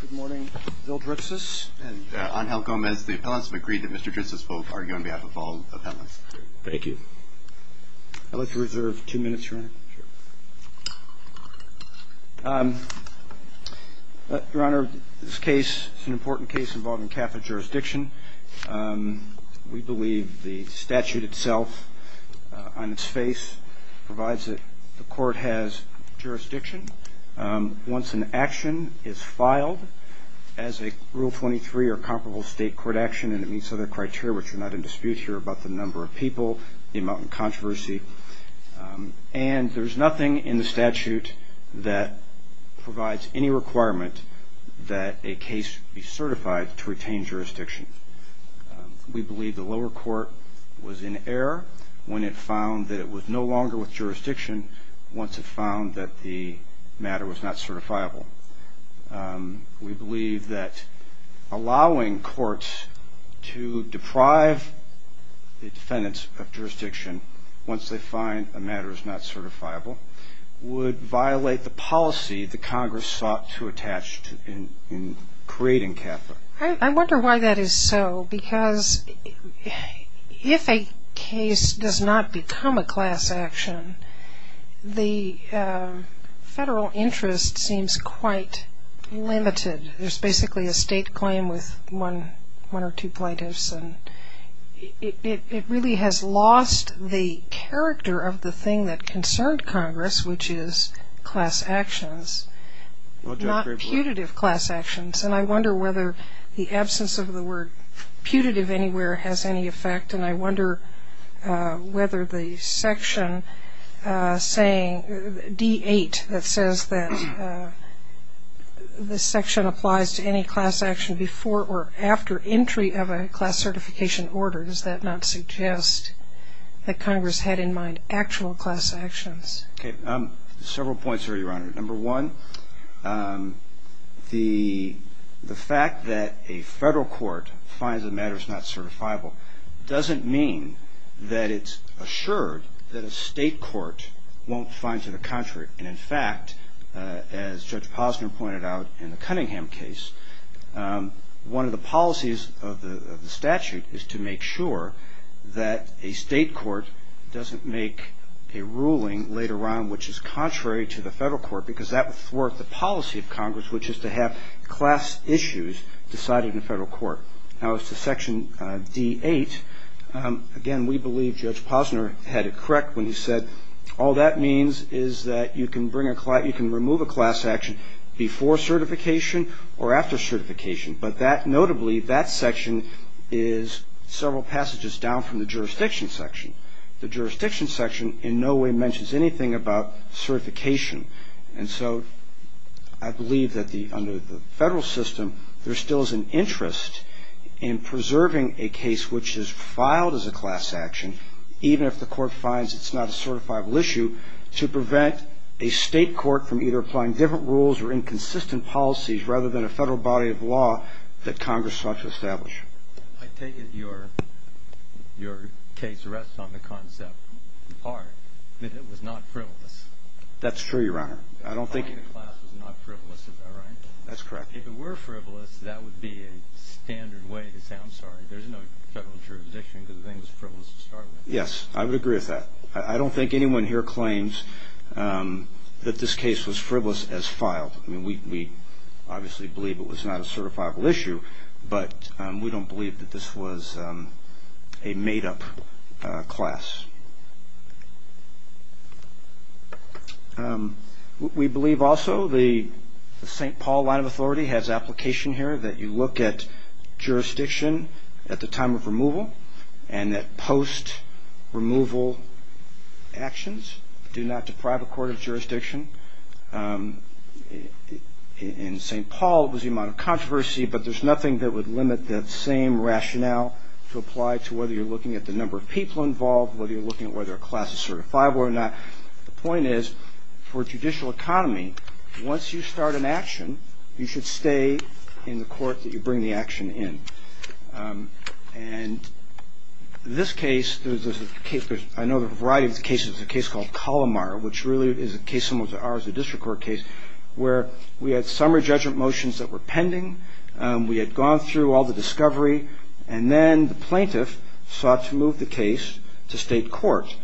Good morning. Bill Dritzis and Angel Gomez. The appellants have agreed that Mr. Dritzis will argue on behalf of all appellants. Thank you. I'd like to reserve two minutes, Your Honor. Your Honor, this case is an important case involving Catholic jurisdiction. We believe the statute itself, on its face, provides that the court has jurisdiction. Once an action is filed as a Rule 23 or comparable state court action and it meets other criteria, which are not in dispute here about the number of people, the amount of controversy, and there's nothing in the statute that provides any requirement that a case be certified to retain jurisdiction. We believe the lower court was in error when it found that it was no longer with jurisdiction once it found that the matter was not certifiable. We believe that allowing courts to deprive the defendants of jurisdiction once they find a matter is not certifiable would violate the policy the Congress sought to attach in creating Catholic. I wonder why that is so, because if a case does not become a class action, the federal interest seems quite limited. There's basically a state claim with one or two plaintiffs. It really has lost the character of the thing that concerned Congress, which is class actions, not putative class actions. And I wonder whether the absence of the word putative anywhere has any effect. And I wonder whether the section saying D8 that says that the section applies to any class action before or after entry of a class certification order, does that not suggest that Congress had in mind actual class actions? Okay. Several points here, Your Honor. Number one, the fact that a federal court finds a matter is not certifiable doesn't mean that it's assured that a state court won't find to the contrary. And in fact, as Judge Posner pointed out in the Cunningham case, One of the policies of the statute is to make sure that a state court doesn't make a ruling later on which is contrary to the federal court, because that would thwart the policy of Congress, which is to have class issues decided in a federal court. Now, as to section D8, again, we believe Judge Posner had it correct when he said, All that means is that you can remove a class action before certification or after certification. But notably, that section is several passages down from the jurisdiction section. The jurisdiction section in no way mentions anything about certification. And so I believe that under the federal system, there still is an interest in preserving a case which is filed as a class action, even if the court finds it's not a certifiable issue, to prevent a state court from either applying different rules or inconsistent policies, rather than a federal body of law that Congress sought to establish. I take it your case rests on the concept, in part, that it was not frivolous. That's true, Your Honor. I don't think the class was not frivolous. Is that right? That's correct. If it were frivolous, that would be a standard way to say, I'm sorry, there's no federal jurisdiction because the thing was frivolous to start with. Yes, I would agree with that. I don't think anyone here claims that this case was frivolous as filed. We obviously believe it was not a certifiable issue, but we don't believe that this was a made-up class. We believe also the St. Paul line of authority has application here that you look at jurisdiction at the time of removal and that post-removal actions do not deprive a court of jurisdiction. In St. Paul, it was the amount of controversy, but there's nothing that would limit that same rationale to apply to whether you're looking at the number of people involved, whether you're looking at whether a class is certified or not. The point is, for judicial economy, once you start an action, you should stay in the court that you bring the action in. And this case, I know there's a variety of cases. There's a case called Colomar, which really is a case similar to ours, a district court case, where we had summary judgment motions that were pending. We had gone through all the discovery, and then the plaintiff sought to move the case to state court.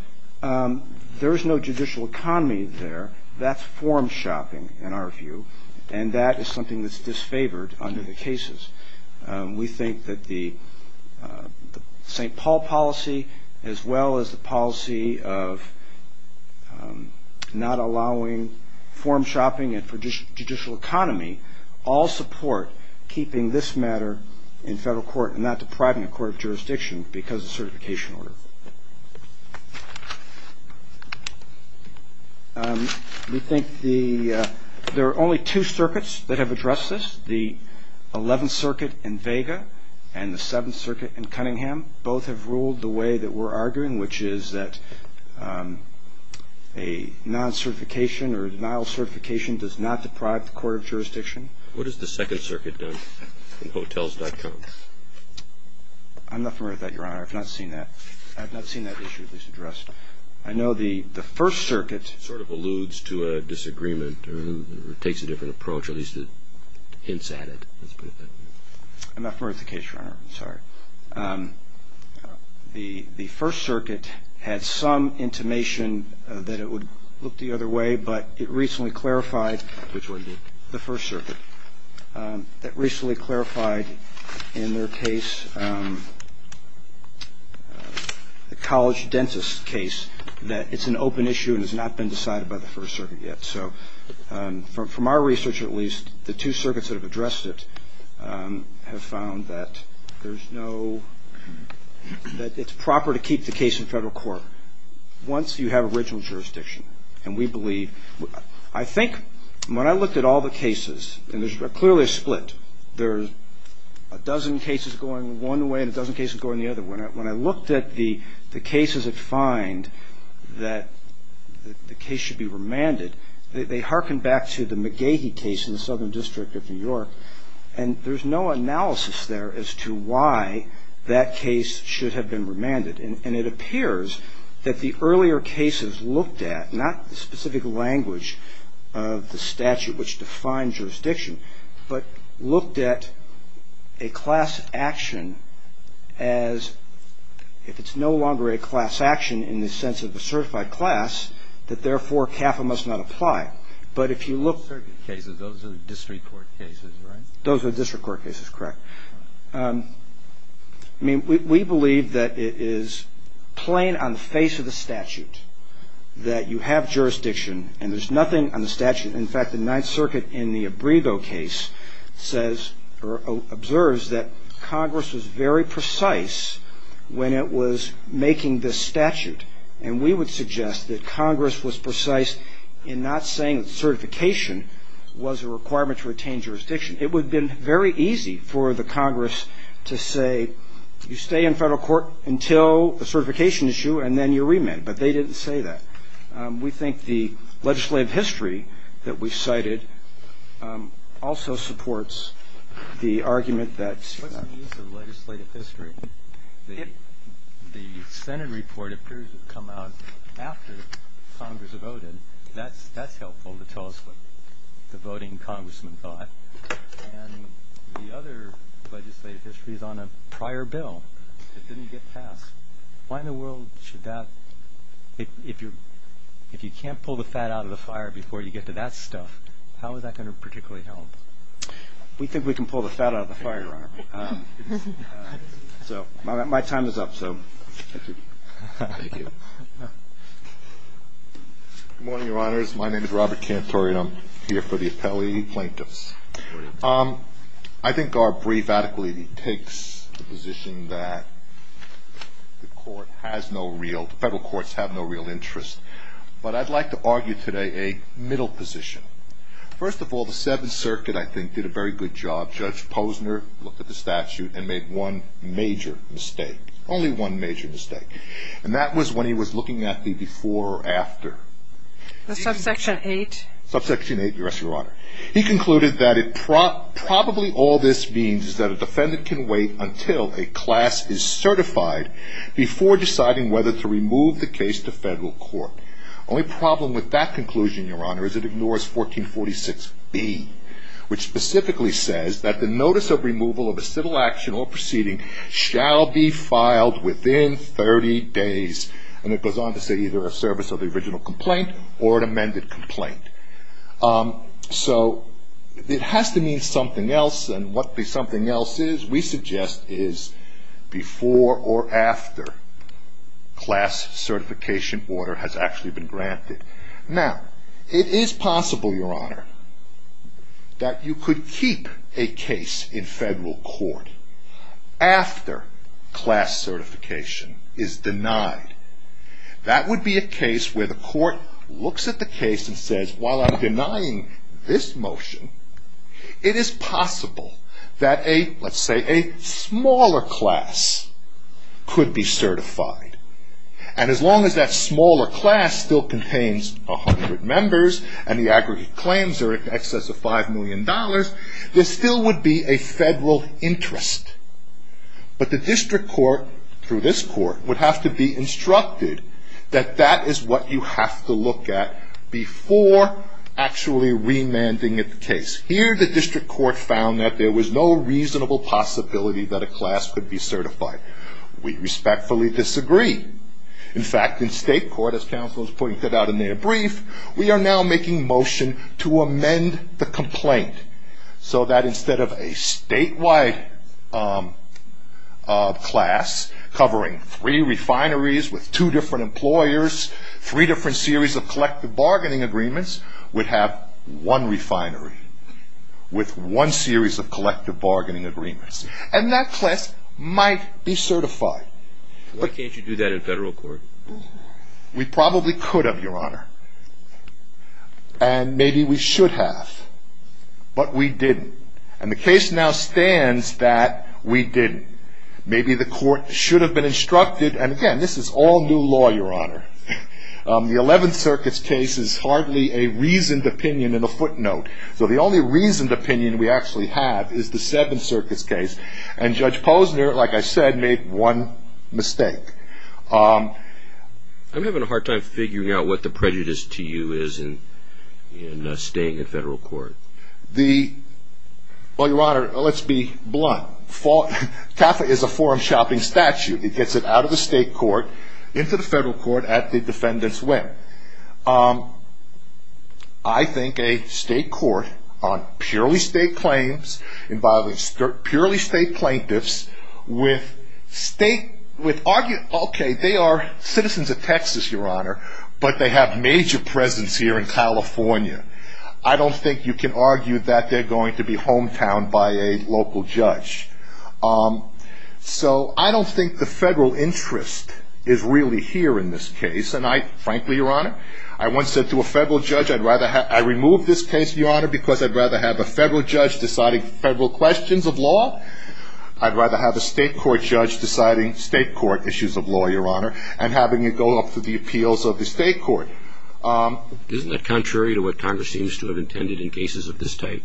There is no judicial economy there. That's form-shopping, in our view, and that is something that's disfavored under the cases. We think that the St. Paul policy, as well as the policy of not allowing form-shopping for judicial economy, all support keeping this matter in federal court and not depriving a court of jurisdiction because of certification order. We think there are only two circuits that have addressed this, the 11th Circuit in Vega and the 7th Circuit in Cunningham. Both have ruled the way that we're arguing, which is that a non-certification or denial of certification does not deprive the court of jurisdiction. What has the 2nd Circuit done in Hotels.com? I'm not familiar with that, Your Honor. I've not seen that issue at least addressed. I know the 1st Circuit sort of alludes to a disagreement or takes a different approach, at least hints at it. I'm not familiar with the case, Your Honor. I'm sorry. The 1st Circuit had some intimation that it would look the other way, but it recently clarified... Which one did? The 1st Circuit, that recently clarified in their case, the college dentist case, that it's an open issue and has not been decided by the 1st Circuit yet. So from our research at least, the two circuits that have addressed it have found that there's no... that it's proper to keep the case in federal court once you have original jurisdiction. And we believe... I think when I looked at all the cases, and there's clearly a split, there's a dozen cases going one way and a dozen cases going the other. When I looked at the cases that find that the case should be remanded, they harken back to the McGehee case in the Southern District of New York, and there's no analysis there as to why that case should have been remanded. And it appears that the earlier cases looked at, not the specific language of the statute which defines jurisdiction, but looked at a class action as, if it's no longer a class action in the sense of a certified class, that therefore CAFA must not apply. But if you look... The 1st Circuit cases, those are district court cases, right? Those are district court cases, correct. I mean, we believe that it is plain on the face of the statute that you have jurisdiction, and there's nothing on the statute... The McGehee case says, or observes, that Congress was very precise when it was making this statute, and we would suggest that Congress was precise in not saying that certification was a requirement to retain jurisdiction. It would have been very easy for the Congress to say, you stay in federal court until the certification issue, and then you're remanded. But they didn't say that. We think the legislative history that we cited also supports the argument that... What's the use of legislative history? If the Senate report appears to come out after Congress voted, that's helpful to tell us what the voting congressmen thought. And the other legislative history is on a prior bill that didn't get passed. Why in the world should that... If you can't pull the fat out of the fire before you get to that stuff, how is that going to particularly help? We think we can pull the fat out of the fire, Your Honor. So my time is up, so thank you. Good morning, Your Honors. My name is Robert Cantori, and I'm here for the appellee plaintiffs. I think our brief adequately takes the position that the court has no real... Federal courts have no real interest. But I'd like to argue today a middle position. First of all, the Seventh Circuit, I think, did a very good job. Judge Posner looked at the statute and made one major mistake, only one major mistake. And that was when he was looking at the before or after. The subsection 8? Subsection 8, Your Honor. He concluded that probably all this means is that a defendant can wait until a class is certified before deciding whether to remove the case to federal court. Only problem with that conclusion, Your Honor, is it ignores 1446B, which specifically says that the notice of removal of a civil action or proceeding shall be filed within 30 days. And it goes on to say either a service of the original complaint or an amended complaint. So it has to mean something else, and what the something else is, we suggest, is before or after class certification order has actually been granted. Now, it is possible, Your Honor, that you could keep a case in federal court after class certification is denied. That would be a case where the court looks at the case and says, while I'm denying this motion, it is possible that a, let's say, a smaller class could be certified. And as long as that smaller class still contains 100 members and the aggregate claims are in excess of $5 million, there still would be a federal interest. But the district court, through this court, would have to be instructed that that is what you have to look at before actually remanding the case. Here, the district court found that there was no reasonable possibility that a class could be certified. We respectfully disagree. In fact, in state court, as counsel has pointed out in their brief, we are now making motion to amend the complaint so that instead of a statewide class covering three refineries with two different employers, three different series of collective bargaining agreements, we'd have one refinery with one series of collective bargaining agreements. And that class might be certified. Why can't you do that in federal court? We probably could have, Your Honor. And maybe we should have. But we didn't. And the case now stands that we didn't. Maybe the court should have been instructed, and again, this is all new law, Your Honor. The Eleventh Circuit's case is hardly a reasoned opinion in a footnote. So the only reasoned opinion we actually have is the Seventh Circuit's case. And Judge Posner, like I said, made one mistake. I'm having a hard time figuring out what the prejudice to you is in staying in federal court. Well, Your Honor, let's be blunt. CAFA is a form-shopping statute. It gets it out of the state court, into the federal court at the defendant's whim. I think a state court on purely state claims involving purely state plaintiffs with state, with argue, okay, they are citizens of Texas, Your Honor, but they have major presence here in California. I don't think you can argue that they're going to be hometown by a local judge. So I don't think the federal interest is really here in this case. And I, frankly, Your Honor, I once said to a federal judge, I'd rather have, I removed this case, Your Honor, because I'd rather have a federal judge deciding federal questions of law. I'd rather have a state court judge deciding state court issues of law, Your Honor, and having it go up to the appeals of the state court. Isn't that contrary to what Congress seems to have intended in cases of this type?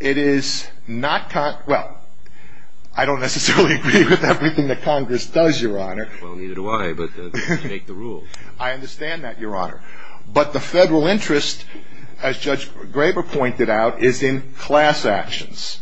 It is not, well, I don't necessarily agree with everything that Congress does, Your Honor. Well, neither do I, but they make the rules. I understand that, Your Honor. But the federal interest, as Judge Graber pointed out, is in class actions.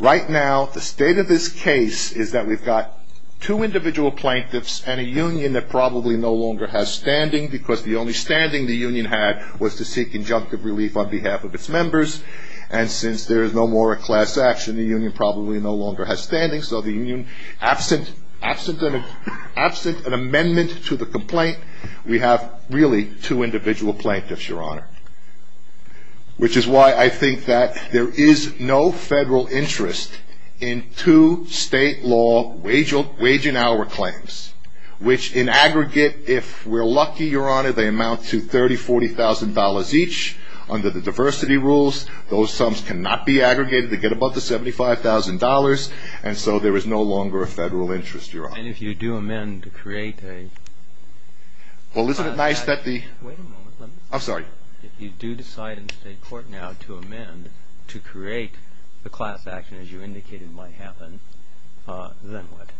Right now, the state of this case is that we've got two individual plaintiffs and a union that probably no longer has standing, because the only standing the union had was to seek injunctive relief on behalf of its members. And since there is no more class action, the union probably no longer has standing. So the union, absent an amendment to the complaint, we have really two individual plaintiffs, Your Honor, which is why I think that there is no federal interest in two state law wage and hour claims, which in aggregate, if we're lucky, Your Honor, they amount to $30,000, $40,000 each. Under the diversity rules, those sums cannot be aggregated. They get above the $75,000, and so there is no longer a federal interest, Your Honor. And if you do amend to create a- Well, isn't it nice that the- Wait a moment. I'm sorry. If you do decide in state court now to amend to create the class action, as you indicated might happen, then what?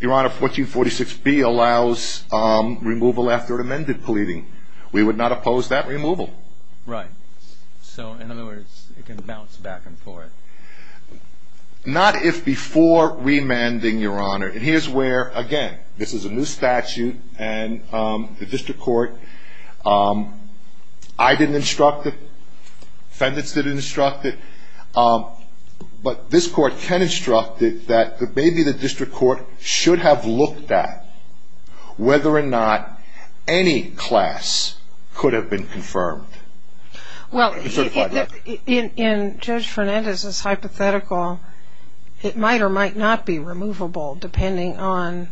Your Honor, 1446B allows removal after an amended pleading. We would not oppose that removal. Right. So, in other words, it can bounce back and forth. Not if before remanding, Your Honor. And here's where, again, this is a new statute, and the district court, I didn't instruct it, defendants didn't instruct it, but this court can instruct it that maybe the district court should have looked at whether or not any class could have been confirmed. Well, in Judge Fernandez's hypothetical, it might or might not be removable depending on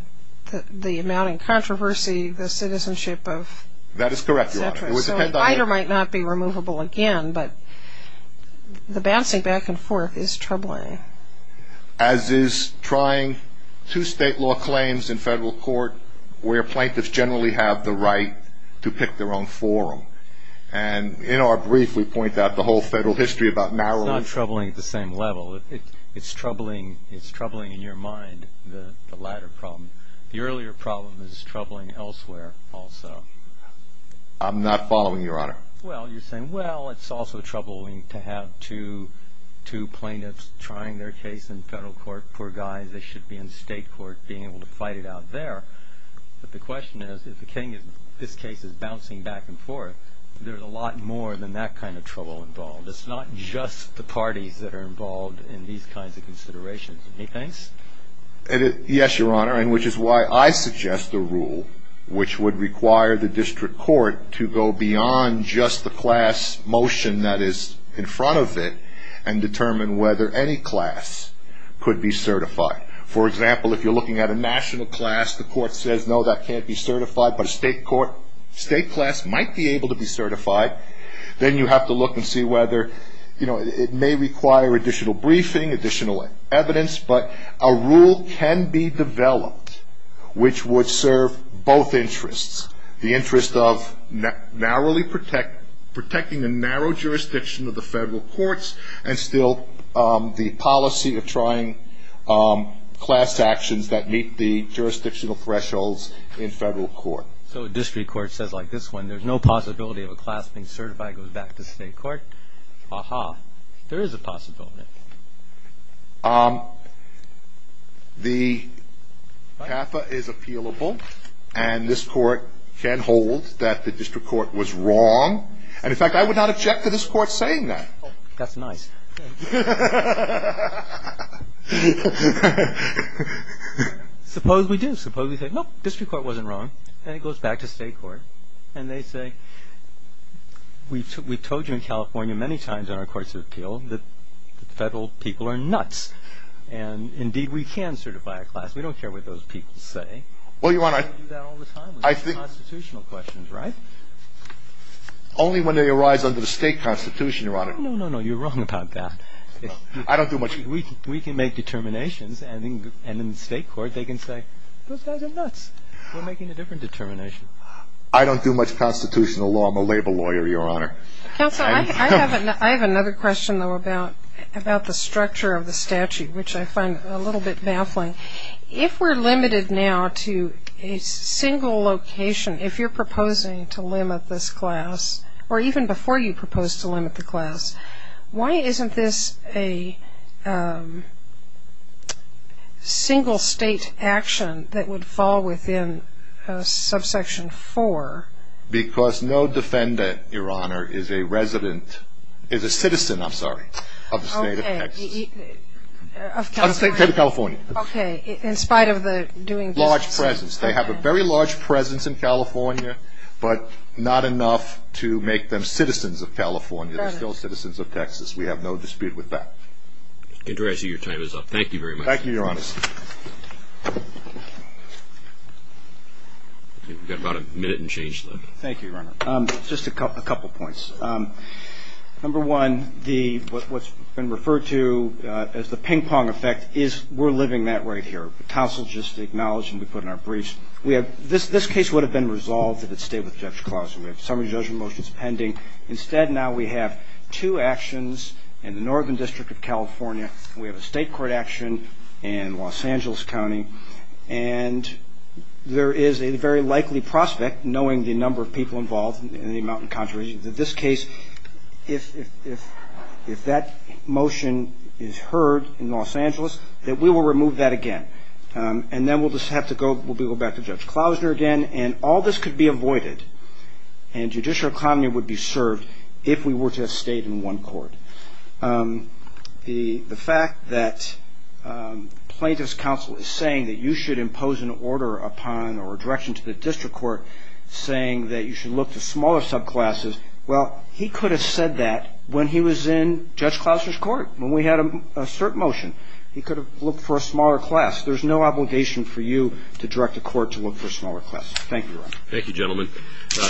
the amount of controversy, the citizenship of- That is correct, Your Honor. So it might or might not be removable again, but the bouncing back and forth is troubling. As is trying two state law claims in federal court where plaintiffs generally have the right to pick their own forum. And in our brief, we point out the whole federal history about narrowing- It's not troubling at the same level. It's troubling in your mind, the latter problem. The earlier problem is troubling elsewhere also. I'm not following, Your Honor. Well, you're saying, well, it's also troubling to have two plaintiffs trying their case in federal court. Poor guys, they should be in state court being able to fight it out there. But the question is, if this case is bouncing back and forth, there's a lot more than that kind of trouble involved. It's not just the parties that are involved in these kinds of considerations. Anything else? Yes, Your Honor, and which is why I suggest a rule which would require the district court to go beyond just the class motion that is in front of it and determine whether any class could be certified. For example, if you're looking at a national class, the court says, no, that can't be certified. But a state class might be able to be certified. Then you have to look and see whether it may require additional briefing, additional evidence. But a rule can be developed which would serve both interests, the interest of narrowly protecting a narrow jurisdiction of the federal courts and still the policy of trying class actions that meet the jurisdictional thresholds in federal court. So a district court says, like this one, there's no possibility of a class being certified, goes back to state court. Aha, there is a possibility. The CAFA is appealable, and this Court can hold that the district court was wrong. And, in fact, I would not object to this Court saying that. That's nice. Suppose we do. Suppose we say, no, district court wasn't wrong. And it goes back to state court. And they say, we told you in California many times in our courts of appeal that federal people are nuts. And, indeed, we can certify a class. We don't care what those people say. Well, Your Honor. We do that all the time with constitutional questions, right? Only when they arise under the state constitution, Your Honor. No, no, no. You're wrong about that. I don't do much. We can make determinations, and in the state court they can say, those guys are nuts. We're making a different determination. I don't do much constitutional law. I'm a labor lawyer, Your Honor. Counsel, I have another question, though, about the structure of the statute, which I find a little bit baffling. If we're limited now to a single location, if you're proposing to limit this class, or even before you propose to limit the class, why isn't this a single-state action that would fall within subsection 4? Because no defendant, Your Honor, is a resident, is a citizen, I'm sorry, of the state of Texas. Of California. Of the state of California. Okay. In spite of the doing this. Large presence. They have a very large presence in California, but not enough to make them citizens of California. They're still citizens of Texas. We have no dispute with that. Mr. Contreras, your time is up. Thank you very much. Thank you, Your Honor. You've got about a minute and change left. Thank you, Your Honor. Just a couple points. Number one, what's been referred to as the ping-pong effect is we're living that right here. The counsel just acknowledged and we put in our briefs. This case would have been resolved if it stayed with Judge Clausen. We have summary judgment motions pending. Instead, now we have two actions in the Northern District of California. We have a state court action in Los Angeles County. And there is a very likely prospect, knowing the number of people involved and the amount of contributions, in this case, if that motion is heard in Los Angeles, that we will remove that again. And then we'll just have to go back to Judge Clausen again. And all this could be avoided and judicial economy would be served if we were to have stayed in one court. The fact that plaintiff's counsel is saying that you should impose an order upon or a direction to the district court saying that you should look to smaller subclasses, well, he could have said that when he was in Judge Clausen's court, when we had a cert motion. He could have looked for a smaller class. There's no obligation for you to direct the court to look for smaller classes. Thank you, Your Honor. Thank you, gentlemen.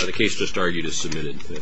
The case just argued is submitted.